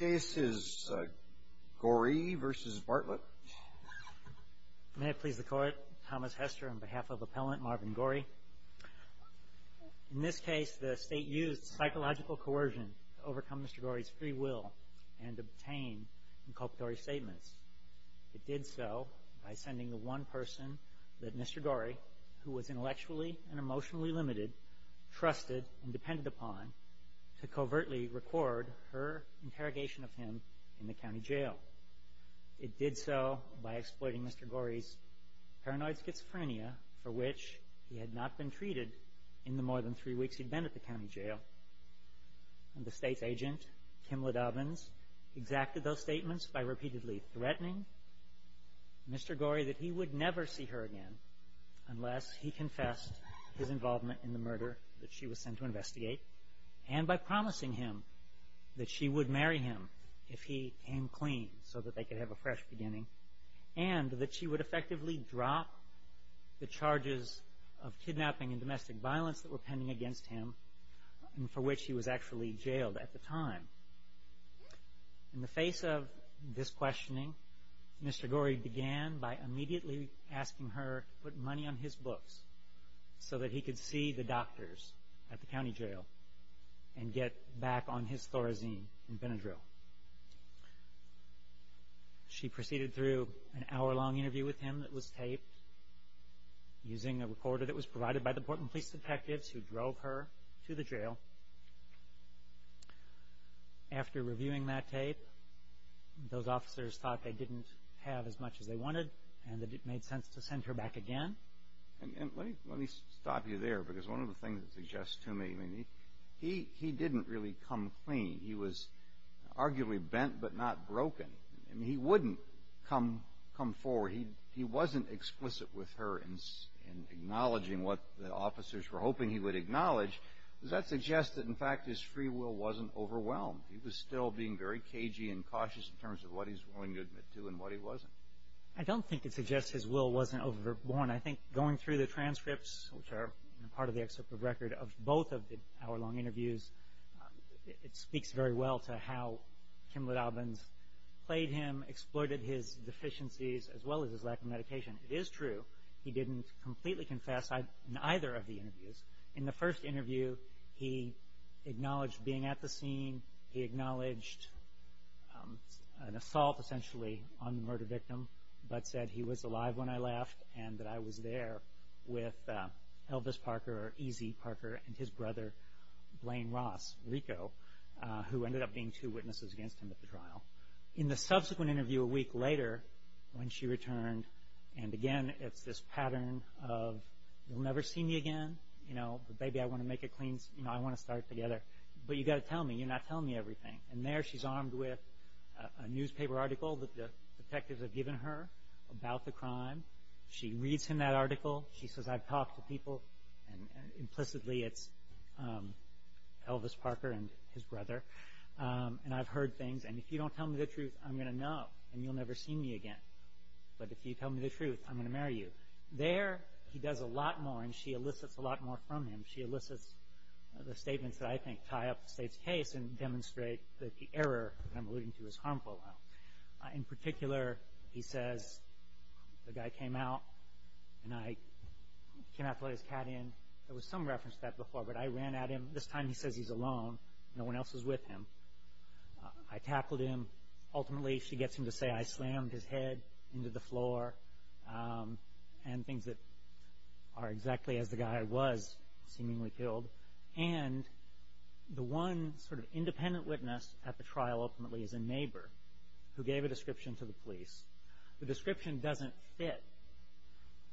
May it please the Court, Thomas Hester on behalf of appellant Marvin Goree. In this case the state used psychological coercion to overcome Mr. Goree's free will and obtain inculpatory statements. It did so by sending the one person that Mr. Goree, who was intellectually and emotionally limited, trusted and depended upon, to the state. to covertly record her interrogation of him in the county jail. It did so by exploiting Mr. Goree's paranoid schizophrenia for which he had not been treated in the more than three weeks he'd been at the county jail. And the state's agent, Kimla Dobbins, exacted those statements by repeatedly threatening Mr. Goree that he would never see her again unless he confessed his involvement in the murder that she was sent to investigate. And by promising him that she would marry him if he came clean so that they could have a fresh beginning. And that she would effectively drop the charges of kidnapping and domestic violence that were pending against him and for which he was actually jailed at the time. In the face of this questioning, Mr. Goree began by immediately asking her to put money on his books so that he could see the doctors at the county jail and get back on his Thorazine and Benadryl. She proceeded through an hour-long interview with him that was taped using a recorder that was provided by the Portland Police detectives who drove her to the jail. After reviewing that tape, those officers thought they didn't have as much as they wanted and that it made sense to send her back again. And let me stop you there because one of the things that suggests to me, I mean, he didn't really come clean. He was arguably bent but not broken. I mean, he wouldn't come forward. He wasn't explicit with her in acknowledging what the officers were hoping he would acknowledge. Does that suggest that, in fact, his free will wasn't overwhelmed? He was still being very cagey and cautious in terms of what he's willing to admit to and what he wasn't? I don't think it suggests his will wasn't overborne. I think going through the transcripts, which are part of the excerpt of record of both of the hour-long interviews, it speaks very well to how Kimla Dobbins played him, exploited his deficiencies as well as his lack of medication. It is true he didn't completely confess in either of the interviews. In the first interview, he acknowledged being at the scene. He acknowledged an assault, essentially, on the murder victim, but said he was alive when I left and that I was there with Elvis Parker, or Easy Parker, and his brother, Blaine Ross, Rico, who ended up being two witnesses against him at the trial. In the subsequent interview, a week later, when she returned, and again, it's this pattern of, you'll never see me again, but baby, I want to make it clean. I want to start together, but you've got to tell me. You're not telling me everything. There, she's armed with a newspaper article that the detectives have given her about the crime. She reads in that article. She says, I've talked to people, and implicitly it's Elvis Parker and his brother, and I've heard things. If you don't tell me the truth, I'm going to know, and you'll never see me again, but if you tell me the truth, I'm going to marry you. There, he does a lot more, and she elicits a lot more from him. She elicits the statements that I think tie up the state's case and demonstrate that the error I'm alluding to is harmful. In particular, he says, the guy came out, and I came out to let his cat in. There was some reference to that before, but I ran at him. This time, he says he's alone. No one else is with him. I tackled him. Ultimately, she gets him to say, I slammed his head into the floor, and things that are exactly as the guy was seemingly killed, and the one sort of independent witness at the trial ultimately is a neighbor who gave a description to the police. The description doesn't fit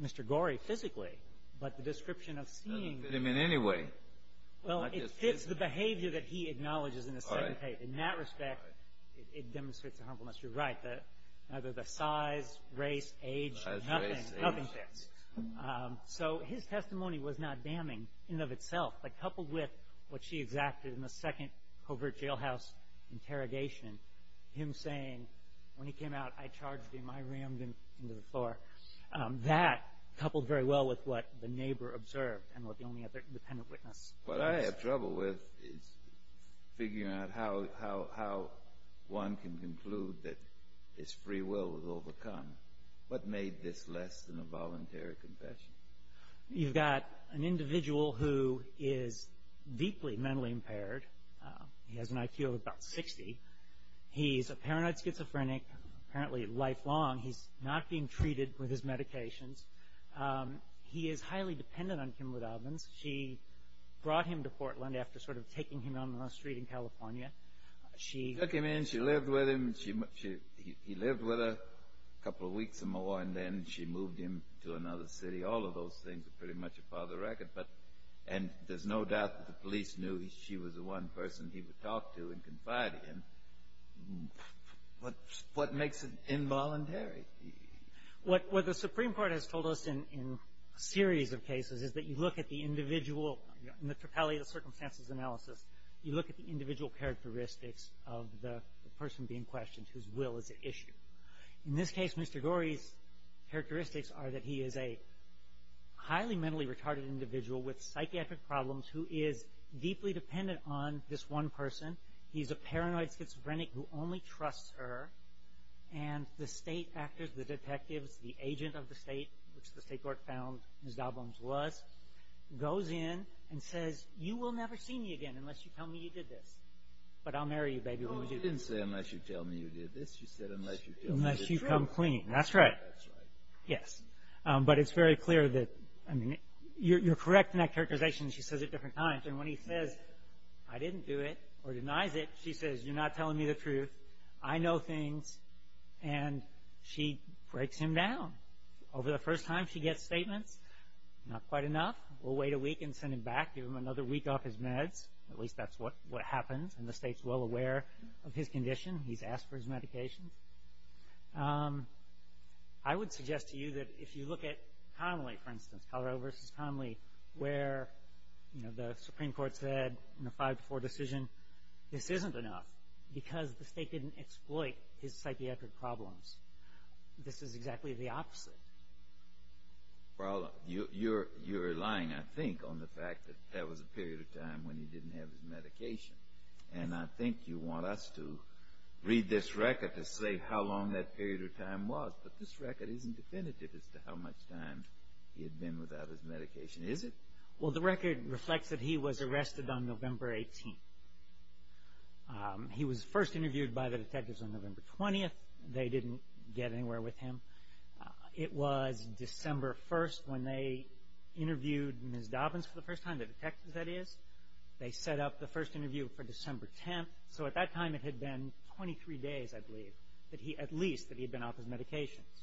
Mr. Gorey physically, but the description of seeing… It doesn't fit him in any way. Well, it fits the behavior that he acknowledges in the second case. In that respect, it demonstrates the harmfulness. You're right. The size, race, age, nothing fits. His testimony was not damning in and of itself, but coupled with what she exacted in the second covert jailhouse interrogation, him saying, when he came out, I charged him, I rammed him into the floor, that coupled very well with what the neighbor observed and what the only other independent witness… What I have trouble with is figuring out how one can conclude that his free will was overcome. What made this less than a voluntary confession? You've got an individual who is deeply mentally impaired. He has an IQ of about 60. He's a paranoid schizophrenic, apparently lifelong. He's not being treated with his medications. He is highly dependent on Kim Woodovans. She brought him to Portland after sort of taking him down the street in California. She… She took him in. She lived with him. He lived with her a couple of weeks or more, and then she moved him to another city. All of those things are pretty much a father record, but… And there's no doubt that the police knew she was the one person he would talk to and confide in. What makes it involuntary? What the Supreme Court has told us in a series of cases is that you look at the individual, in the Trapezoidal Circumstances Analysis, you look at the individual characteristics of the person being questioned whose will is at issue. In this case, Mr. Gorey's characteristics are that he is a highly mentally retarded individual with psychiatric problems who is deeply dependent on this one person. He's a paranoid schizophrenic who only trusts her, and the state actors, the detectives, the agent of the state, which the state court found Ms. Dobbins was, goes in and says, you will never see me again unless you tell me you did this. But I'll marry you, baby, when we do this. Well, you didn't say, unless you tell me you did this. You said, unless you tell me the truth. Unless you come clean. That's right. That's right. Yes. But it's very clear that, I mean, you're correct in that characterization. She says it different times. And when he says, I didn't do it, or denies it, she says, you're not telling me the truth. I know things. And she breaks him down. Over the first time she gets statements, not quite enough. We'll wait a week and send him back, give him another week off his meds. At least that's what happens, and the state's well aware of his condition. He's asked for his medication. I would suggest to you that if you look at Connolly, for instance, Colorado v. Connolly, where the Supreme Court said in a 5-4 decision, this isn't enough, because the state didn't exploit his psychiatric problems. This is exactly the opposite. Well, you're relying, I think, on the fact that that was a period of time when he didn't have his medication. And I think you want us to read this record to say how long that period of time was. But this record isn't definitive as to how much time he had been without his medication, is it? Well, the record reflects that he was arrested on November 18th. He was first interviewed by the detectives on November 20th. They didn't get anywhere with him. It was December 1st when they interviewed Ms. Dobbins for the first time, the detectives, that is. They set up the first interview for December 10th, so at that time it had been 23 days, I believe, at least, that he had been off his medications.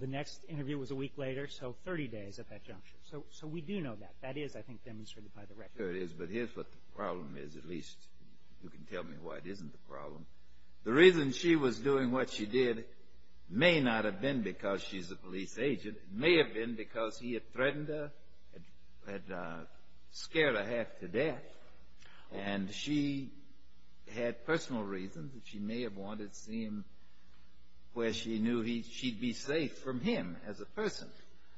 The next interview was a week later, so 30 days at that juncture. So we do know that. That is, I think, demonstrated by the record. Sure it is, but here's what the problem is, at least you can tell me why it isn't the problem. The reason she was doing what she did may not have been because she's a police agent. It may have been because he had threatened her, had scared her half to death. And she had personal reasons that she may have wanted to see him where she knew she'd be safe from him as a person.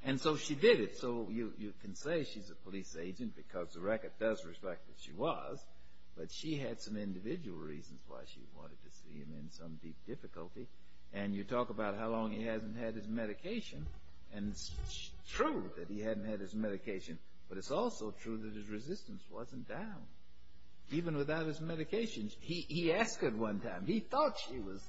And so she did it. So you can say she's a police agent because the record does reflect that she was, but she had some individual reasons why she wanted to see him in some deep difficulty. And you talk about how long he hasn't had his medication, and it's true that he hadn't had his medication, but it's also true that his resistance wasn't down, even without his medication. He asked her one time. He thought she was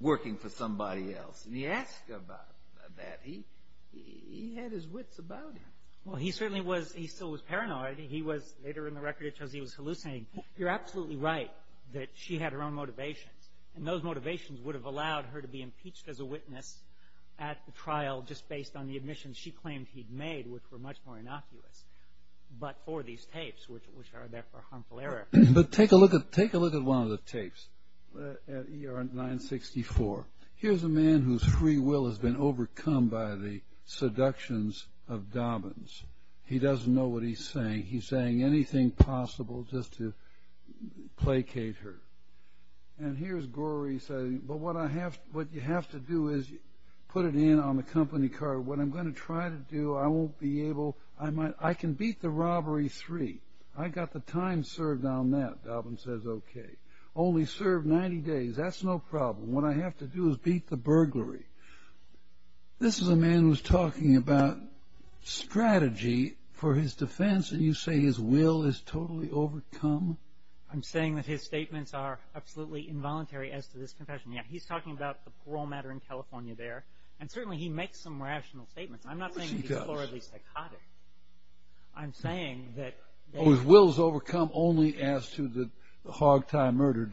working for somebody else, and he asked her about that. He had his wits about him. Well, he certainly was, he still was paranoid. He was, later in the record, it shows he was hallucinating. You're absolutely right that she had her own motivations, and those motivations would have allowed her to be impeached as a witness at the trial just based on the admissions she claimed he'd made, which were much more innocuous, but for these tapes, which are there for harmful error. But take a look at one of the tapes at ER 964. Here's a man whose free will has been overcome by the seductions of Dobbins. He doesn't know what he's saying. He's saying anything possible just to placate her. And here's Gorey saying, but what you have to do is put it in on the company card. What I'm going to try to do, I won't be able, I can beat the robbery three. I've got the time served on that, Dobbins says, okay. Only serve 90 days, that's no problem. What I have to do is beat the burglary. This is a man who's talking about strategy for his defense, and you say his will is totally overcome? I'm saying that his statements are absolutely involuntary as to this confession. Yeah, he's talking about the parole matter in California there, and certainly he makes some rational statements. I'm not saying he's morally psychotic. I'm saying that… Oh, his will is overcome only as to the hogtie murder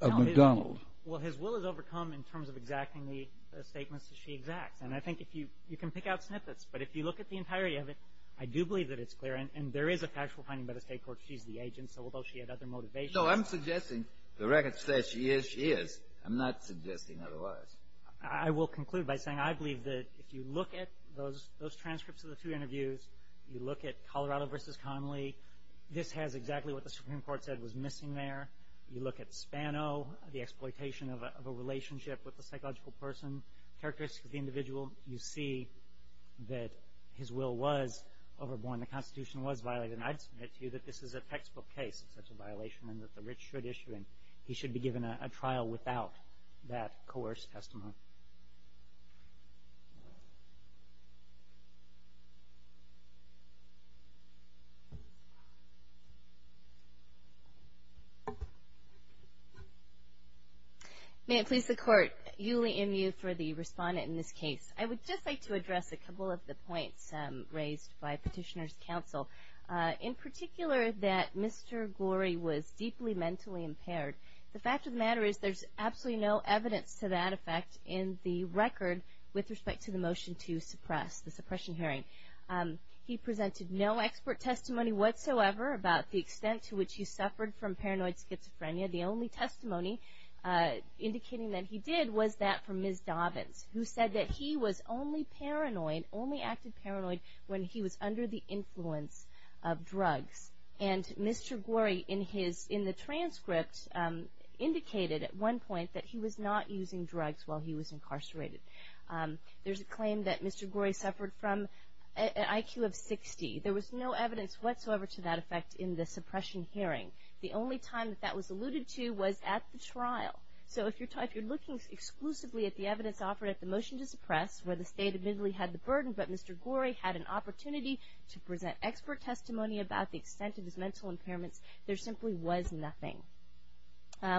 of McDonald. Well, his will is overcome in terms of exacting the statements that she exacts, and I think you can pick out snippets, but if you look at the entirety of it, I do believe that it's clear, and there is a factual finding by the state court. She's the agent, so although she had other motivations… No, I'm suggesting the record says she is, she is. I'm not suggesting otherwise. I will conclude by saying I believe that if you look at those transcripts of the two interviews, you look at Colorado v. Connolly, this has exactly what the Supreme Court said was missing there. You look at Spano, the exploitation of a relationship with a psychological person, characteristics of the individual, you see that his will was overborne, the Constitution was violated, and I'd submit to you that this is a textbook case of such a violation and that the rich should issue him. He should be given a trial without that coerced testimony. May it please the Court. Julie M. Yu for the respondent in this case. I would just like to address a couple of the points raised by Petitioner's Counsel. In particular, that Mr. Gorey was deeply mentally impaired. The fact of the matter is there's absolutely no evidence to that effect in the record with respect to the motion to suppress, the suppression hearing. He presented no expert testimony whatsoever about the extent to which he suffered from paranoid schizophrenia. The only testimony indicating that he did was that from Ms. Dobbins, who said that he was only paranoid, only acted paranoid when he was under the influence of drugs. And Mr. Gorey in the transcript indicated at one point that he was not using drugs while he was incarcerated. There's a claim that Mr. Gorey suffered from an IQ of 60. There was no evidence whatsoever to that effect in the suppression hearing. The only time that that was alluded to was at the trial. So if you're looking exclusively at the evidence offered at the motion to suppress where the state admittedly had the burden, but Mr. Gorey had an opportunity to present expert testimony about the extent of his mental impairments, there simply was nothing.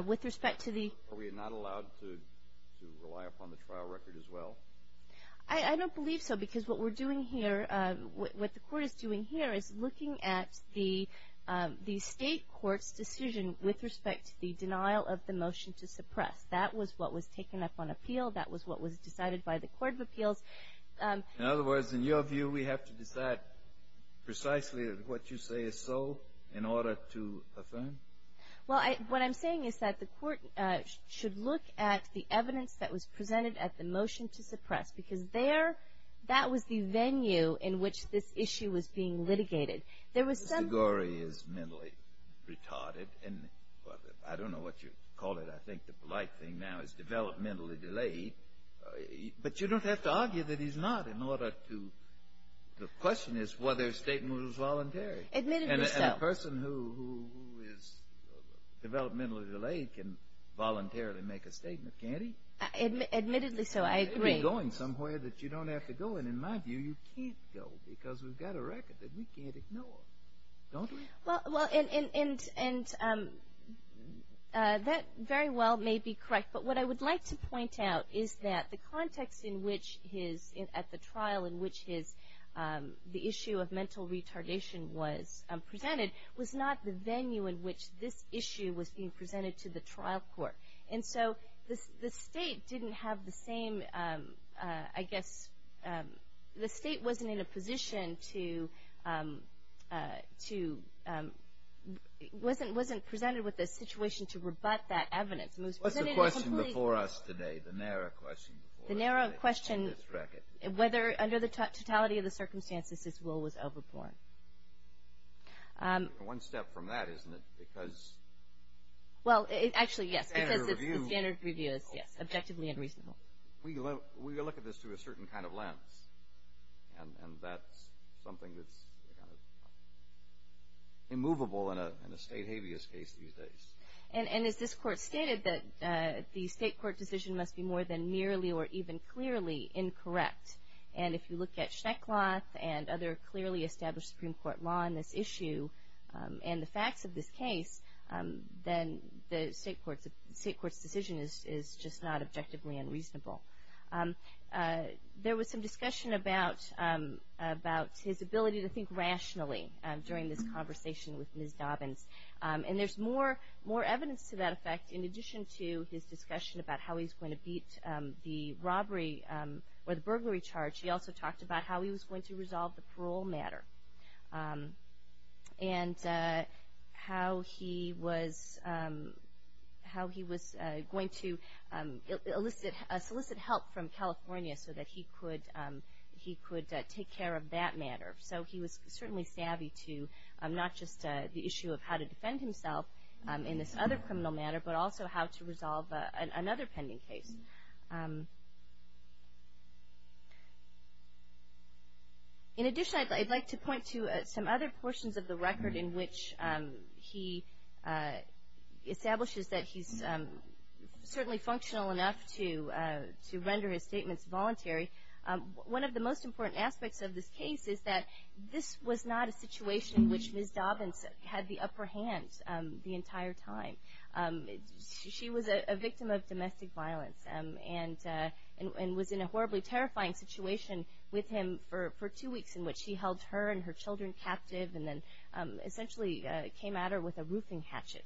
With respect to the- Are we not allowed to rely upon the trial record as well? I don't believe so because what we're doing here, what the court is doing here is looking at the state court's decision with respect to the denial of the motion to suppress. That was what was taken up on appeal. That was what was decided by the Court of Appeals. In other words, in your view, we have to decide precisely what you say is so in order to affirm? Well, what I'm saying is that the court should look at the evidence that was presented at the motion to suppress because there that was the venue in which this issue was being litigated. There was some- Mr. Gorey is mentally retarded. And I don't know what you'd call it. I think the polite thing now is developmentally delayed. But you don't have to argue that he's not in order to- The question is whether a statement was voluntary. Admittedly so. And a person who is developmentally delayed can voluntarily make a statement, can't he? Admittedly so, I agree. You may be going somewhere that you don't have to go. And in my view, you can't go because we've got a record that we can't ignore, don't we? Well, and that very well may be correct. But what I would like to point out is that the context in which his- at the trial in which the issue of mental retardation was presented was not the venue in which this issue was being presented to the trial court. And so the state didn't have the same- I guess the state wasn't in a position to- wasn't presented with a situation to rebut that evidence. What's the question before us today, the narrow question? The narrow question, whether under the totality of the circumstances, his will was overborne. One step from that, isn't it, because- Well, actually, yes, because the standard review is, yes, objectively unreasonable. We look at this through a certain kind of lens. And that's something that's kind of immovable in a state habeas case these days. And as this court stated, that the state court decision must be more than merely or even clearly incorrect. And if you look at Schneckloth and other clearly established Supreme Court law on this issue and the facts of this case, then the state court's decision is just not objectively unreasonable. There was some discussion about his ability to think rationally during this conversation with Ms. Dobbins. And there's more evidence to that effect in addition to his discussion about how he's going to beat the robbery or the burglary charge. He also talked about how he was going to resolve the parole matter and how he was going to solicit help from California so that he could take care of that matter. So he was certainly savvy to not just the issue of how to defend himself in this other criminal matter, but also how to resolve another pending case. In addition, I'd like to point to some other portions of the record in which he establishes that he's certainly functional enough to render his statements voluntary. One of the most important aspects of this case is that this was not a situation in which Ms. Dobbins had the upper hand the entire time. She was a victim of domestic violence and was in a horribly terrifying situation with him for two weeks in which he held her and her children captive and then essentially came at her with a roofing hatchet.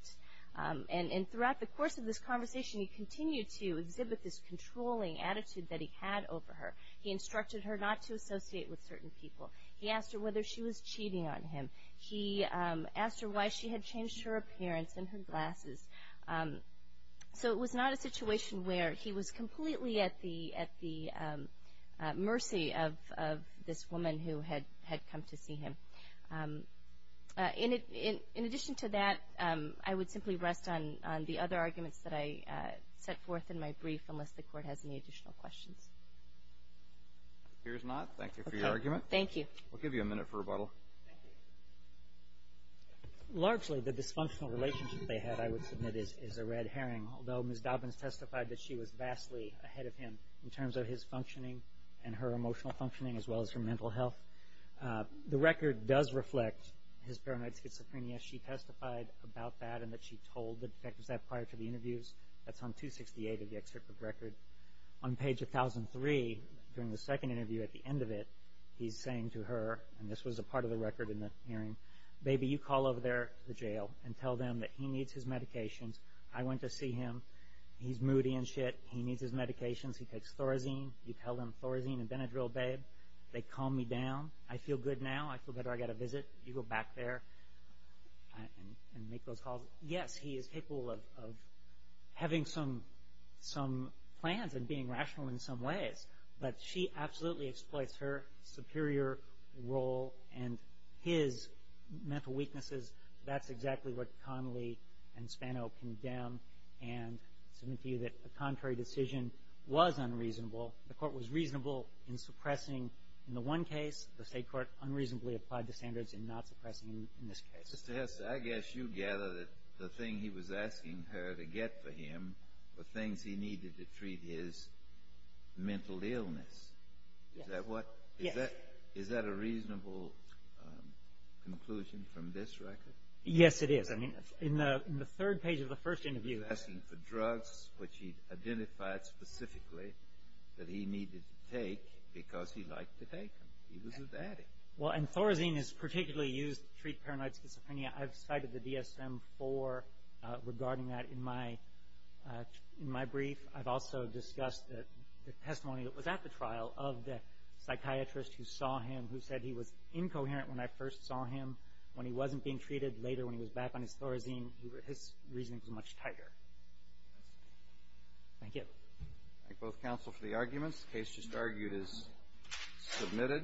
And throughout the course of this conversation, he continued to exhibit this controlling attitude that he had over her. He instructed her not to associate with certain people. He asked her whether she was cheating on him. He asked her why she had changed her appearance and her glasses. So it was not a situation where he was completely at the mercy of this woman who had come to see him. In addition to that, I would simply rest on the other arguments that I set forth in my brief unless the Court has any additional questions. It appears not. Thank you for your argument. Thank you. We'll give you a minute for rebuttal. Largely, the dysfunctional relationship they had, I would submit, is a red herring, although Ms. Dobbins testified that she was vastly ahead of him in terms of his functioning and her emotional functioning as well as her mental health. The record does reflect his paranoid schizophrenia. She testified about that and that she told the detectives that prior to the interviews. That's on 268 of the excerpt of the record. On page 1003, during the second interview at the end of it, he's saying to her, and this was a part of the record in the hearing, baby, you call over there to the jail and tell them that he needs his medications. I went to see him. He's moody and shit. He needs his medications. He takes Thorazine. You tell them Thorazine and Benadryl, babe. They calm me down. I feel good now. I feel better. I got a visit. You go back there and make those calls. Yes, he is capable of having some plans and being rational in some ways, but she absolutely exploits her superior role and his mental weaknesses. That's exactly what Connolly and Spano condemn and submit to you that the contrary decision was unreasonable. The court was reasonable in suppressing in the one case. The state court unreasonably applied the standards in not suppressing in this case. Mr. Hester, I guess you gather that the thing he was asking her to get for him were things he needed to treat his mental illness. Yes. Is that a reasonable conclusion from this record? Yes, it is. I mean, in the third page of the first interview. He was asking for drugs which he identified specifically that he needed to take because he liked to take them. He was a daddy. Well, and Thorazine is particularly used to treat paranoid schizophrenia. I've cited the DSM-IV regarding that in my brief. I've also discussed the testimony that was at the trial of the psychiatrist who saw him, who said he was incoherent when I first saw him. When he wasn't being treated, later when he was back on his Thorazine, his reasoning was much tighter. Thank you. Thank both counsel for the arguments. The case just argued is submitted.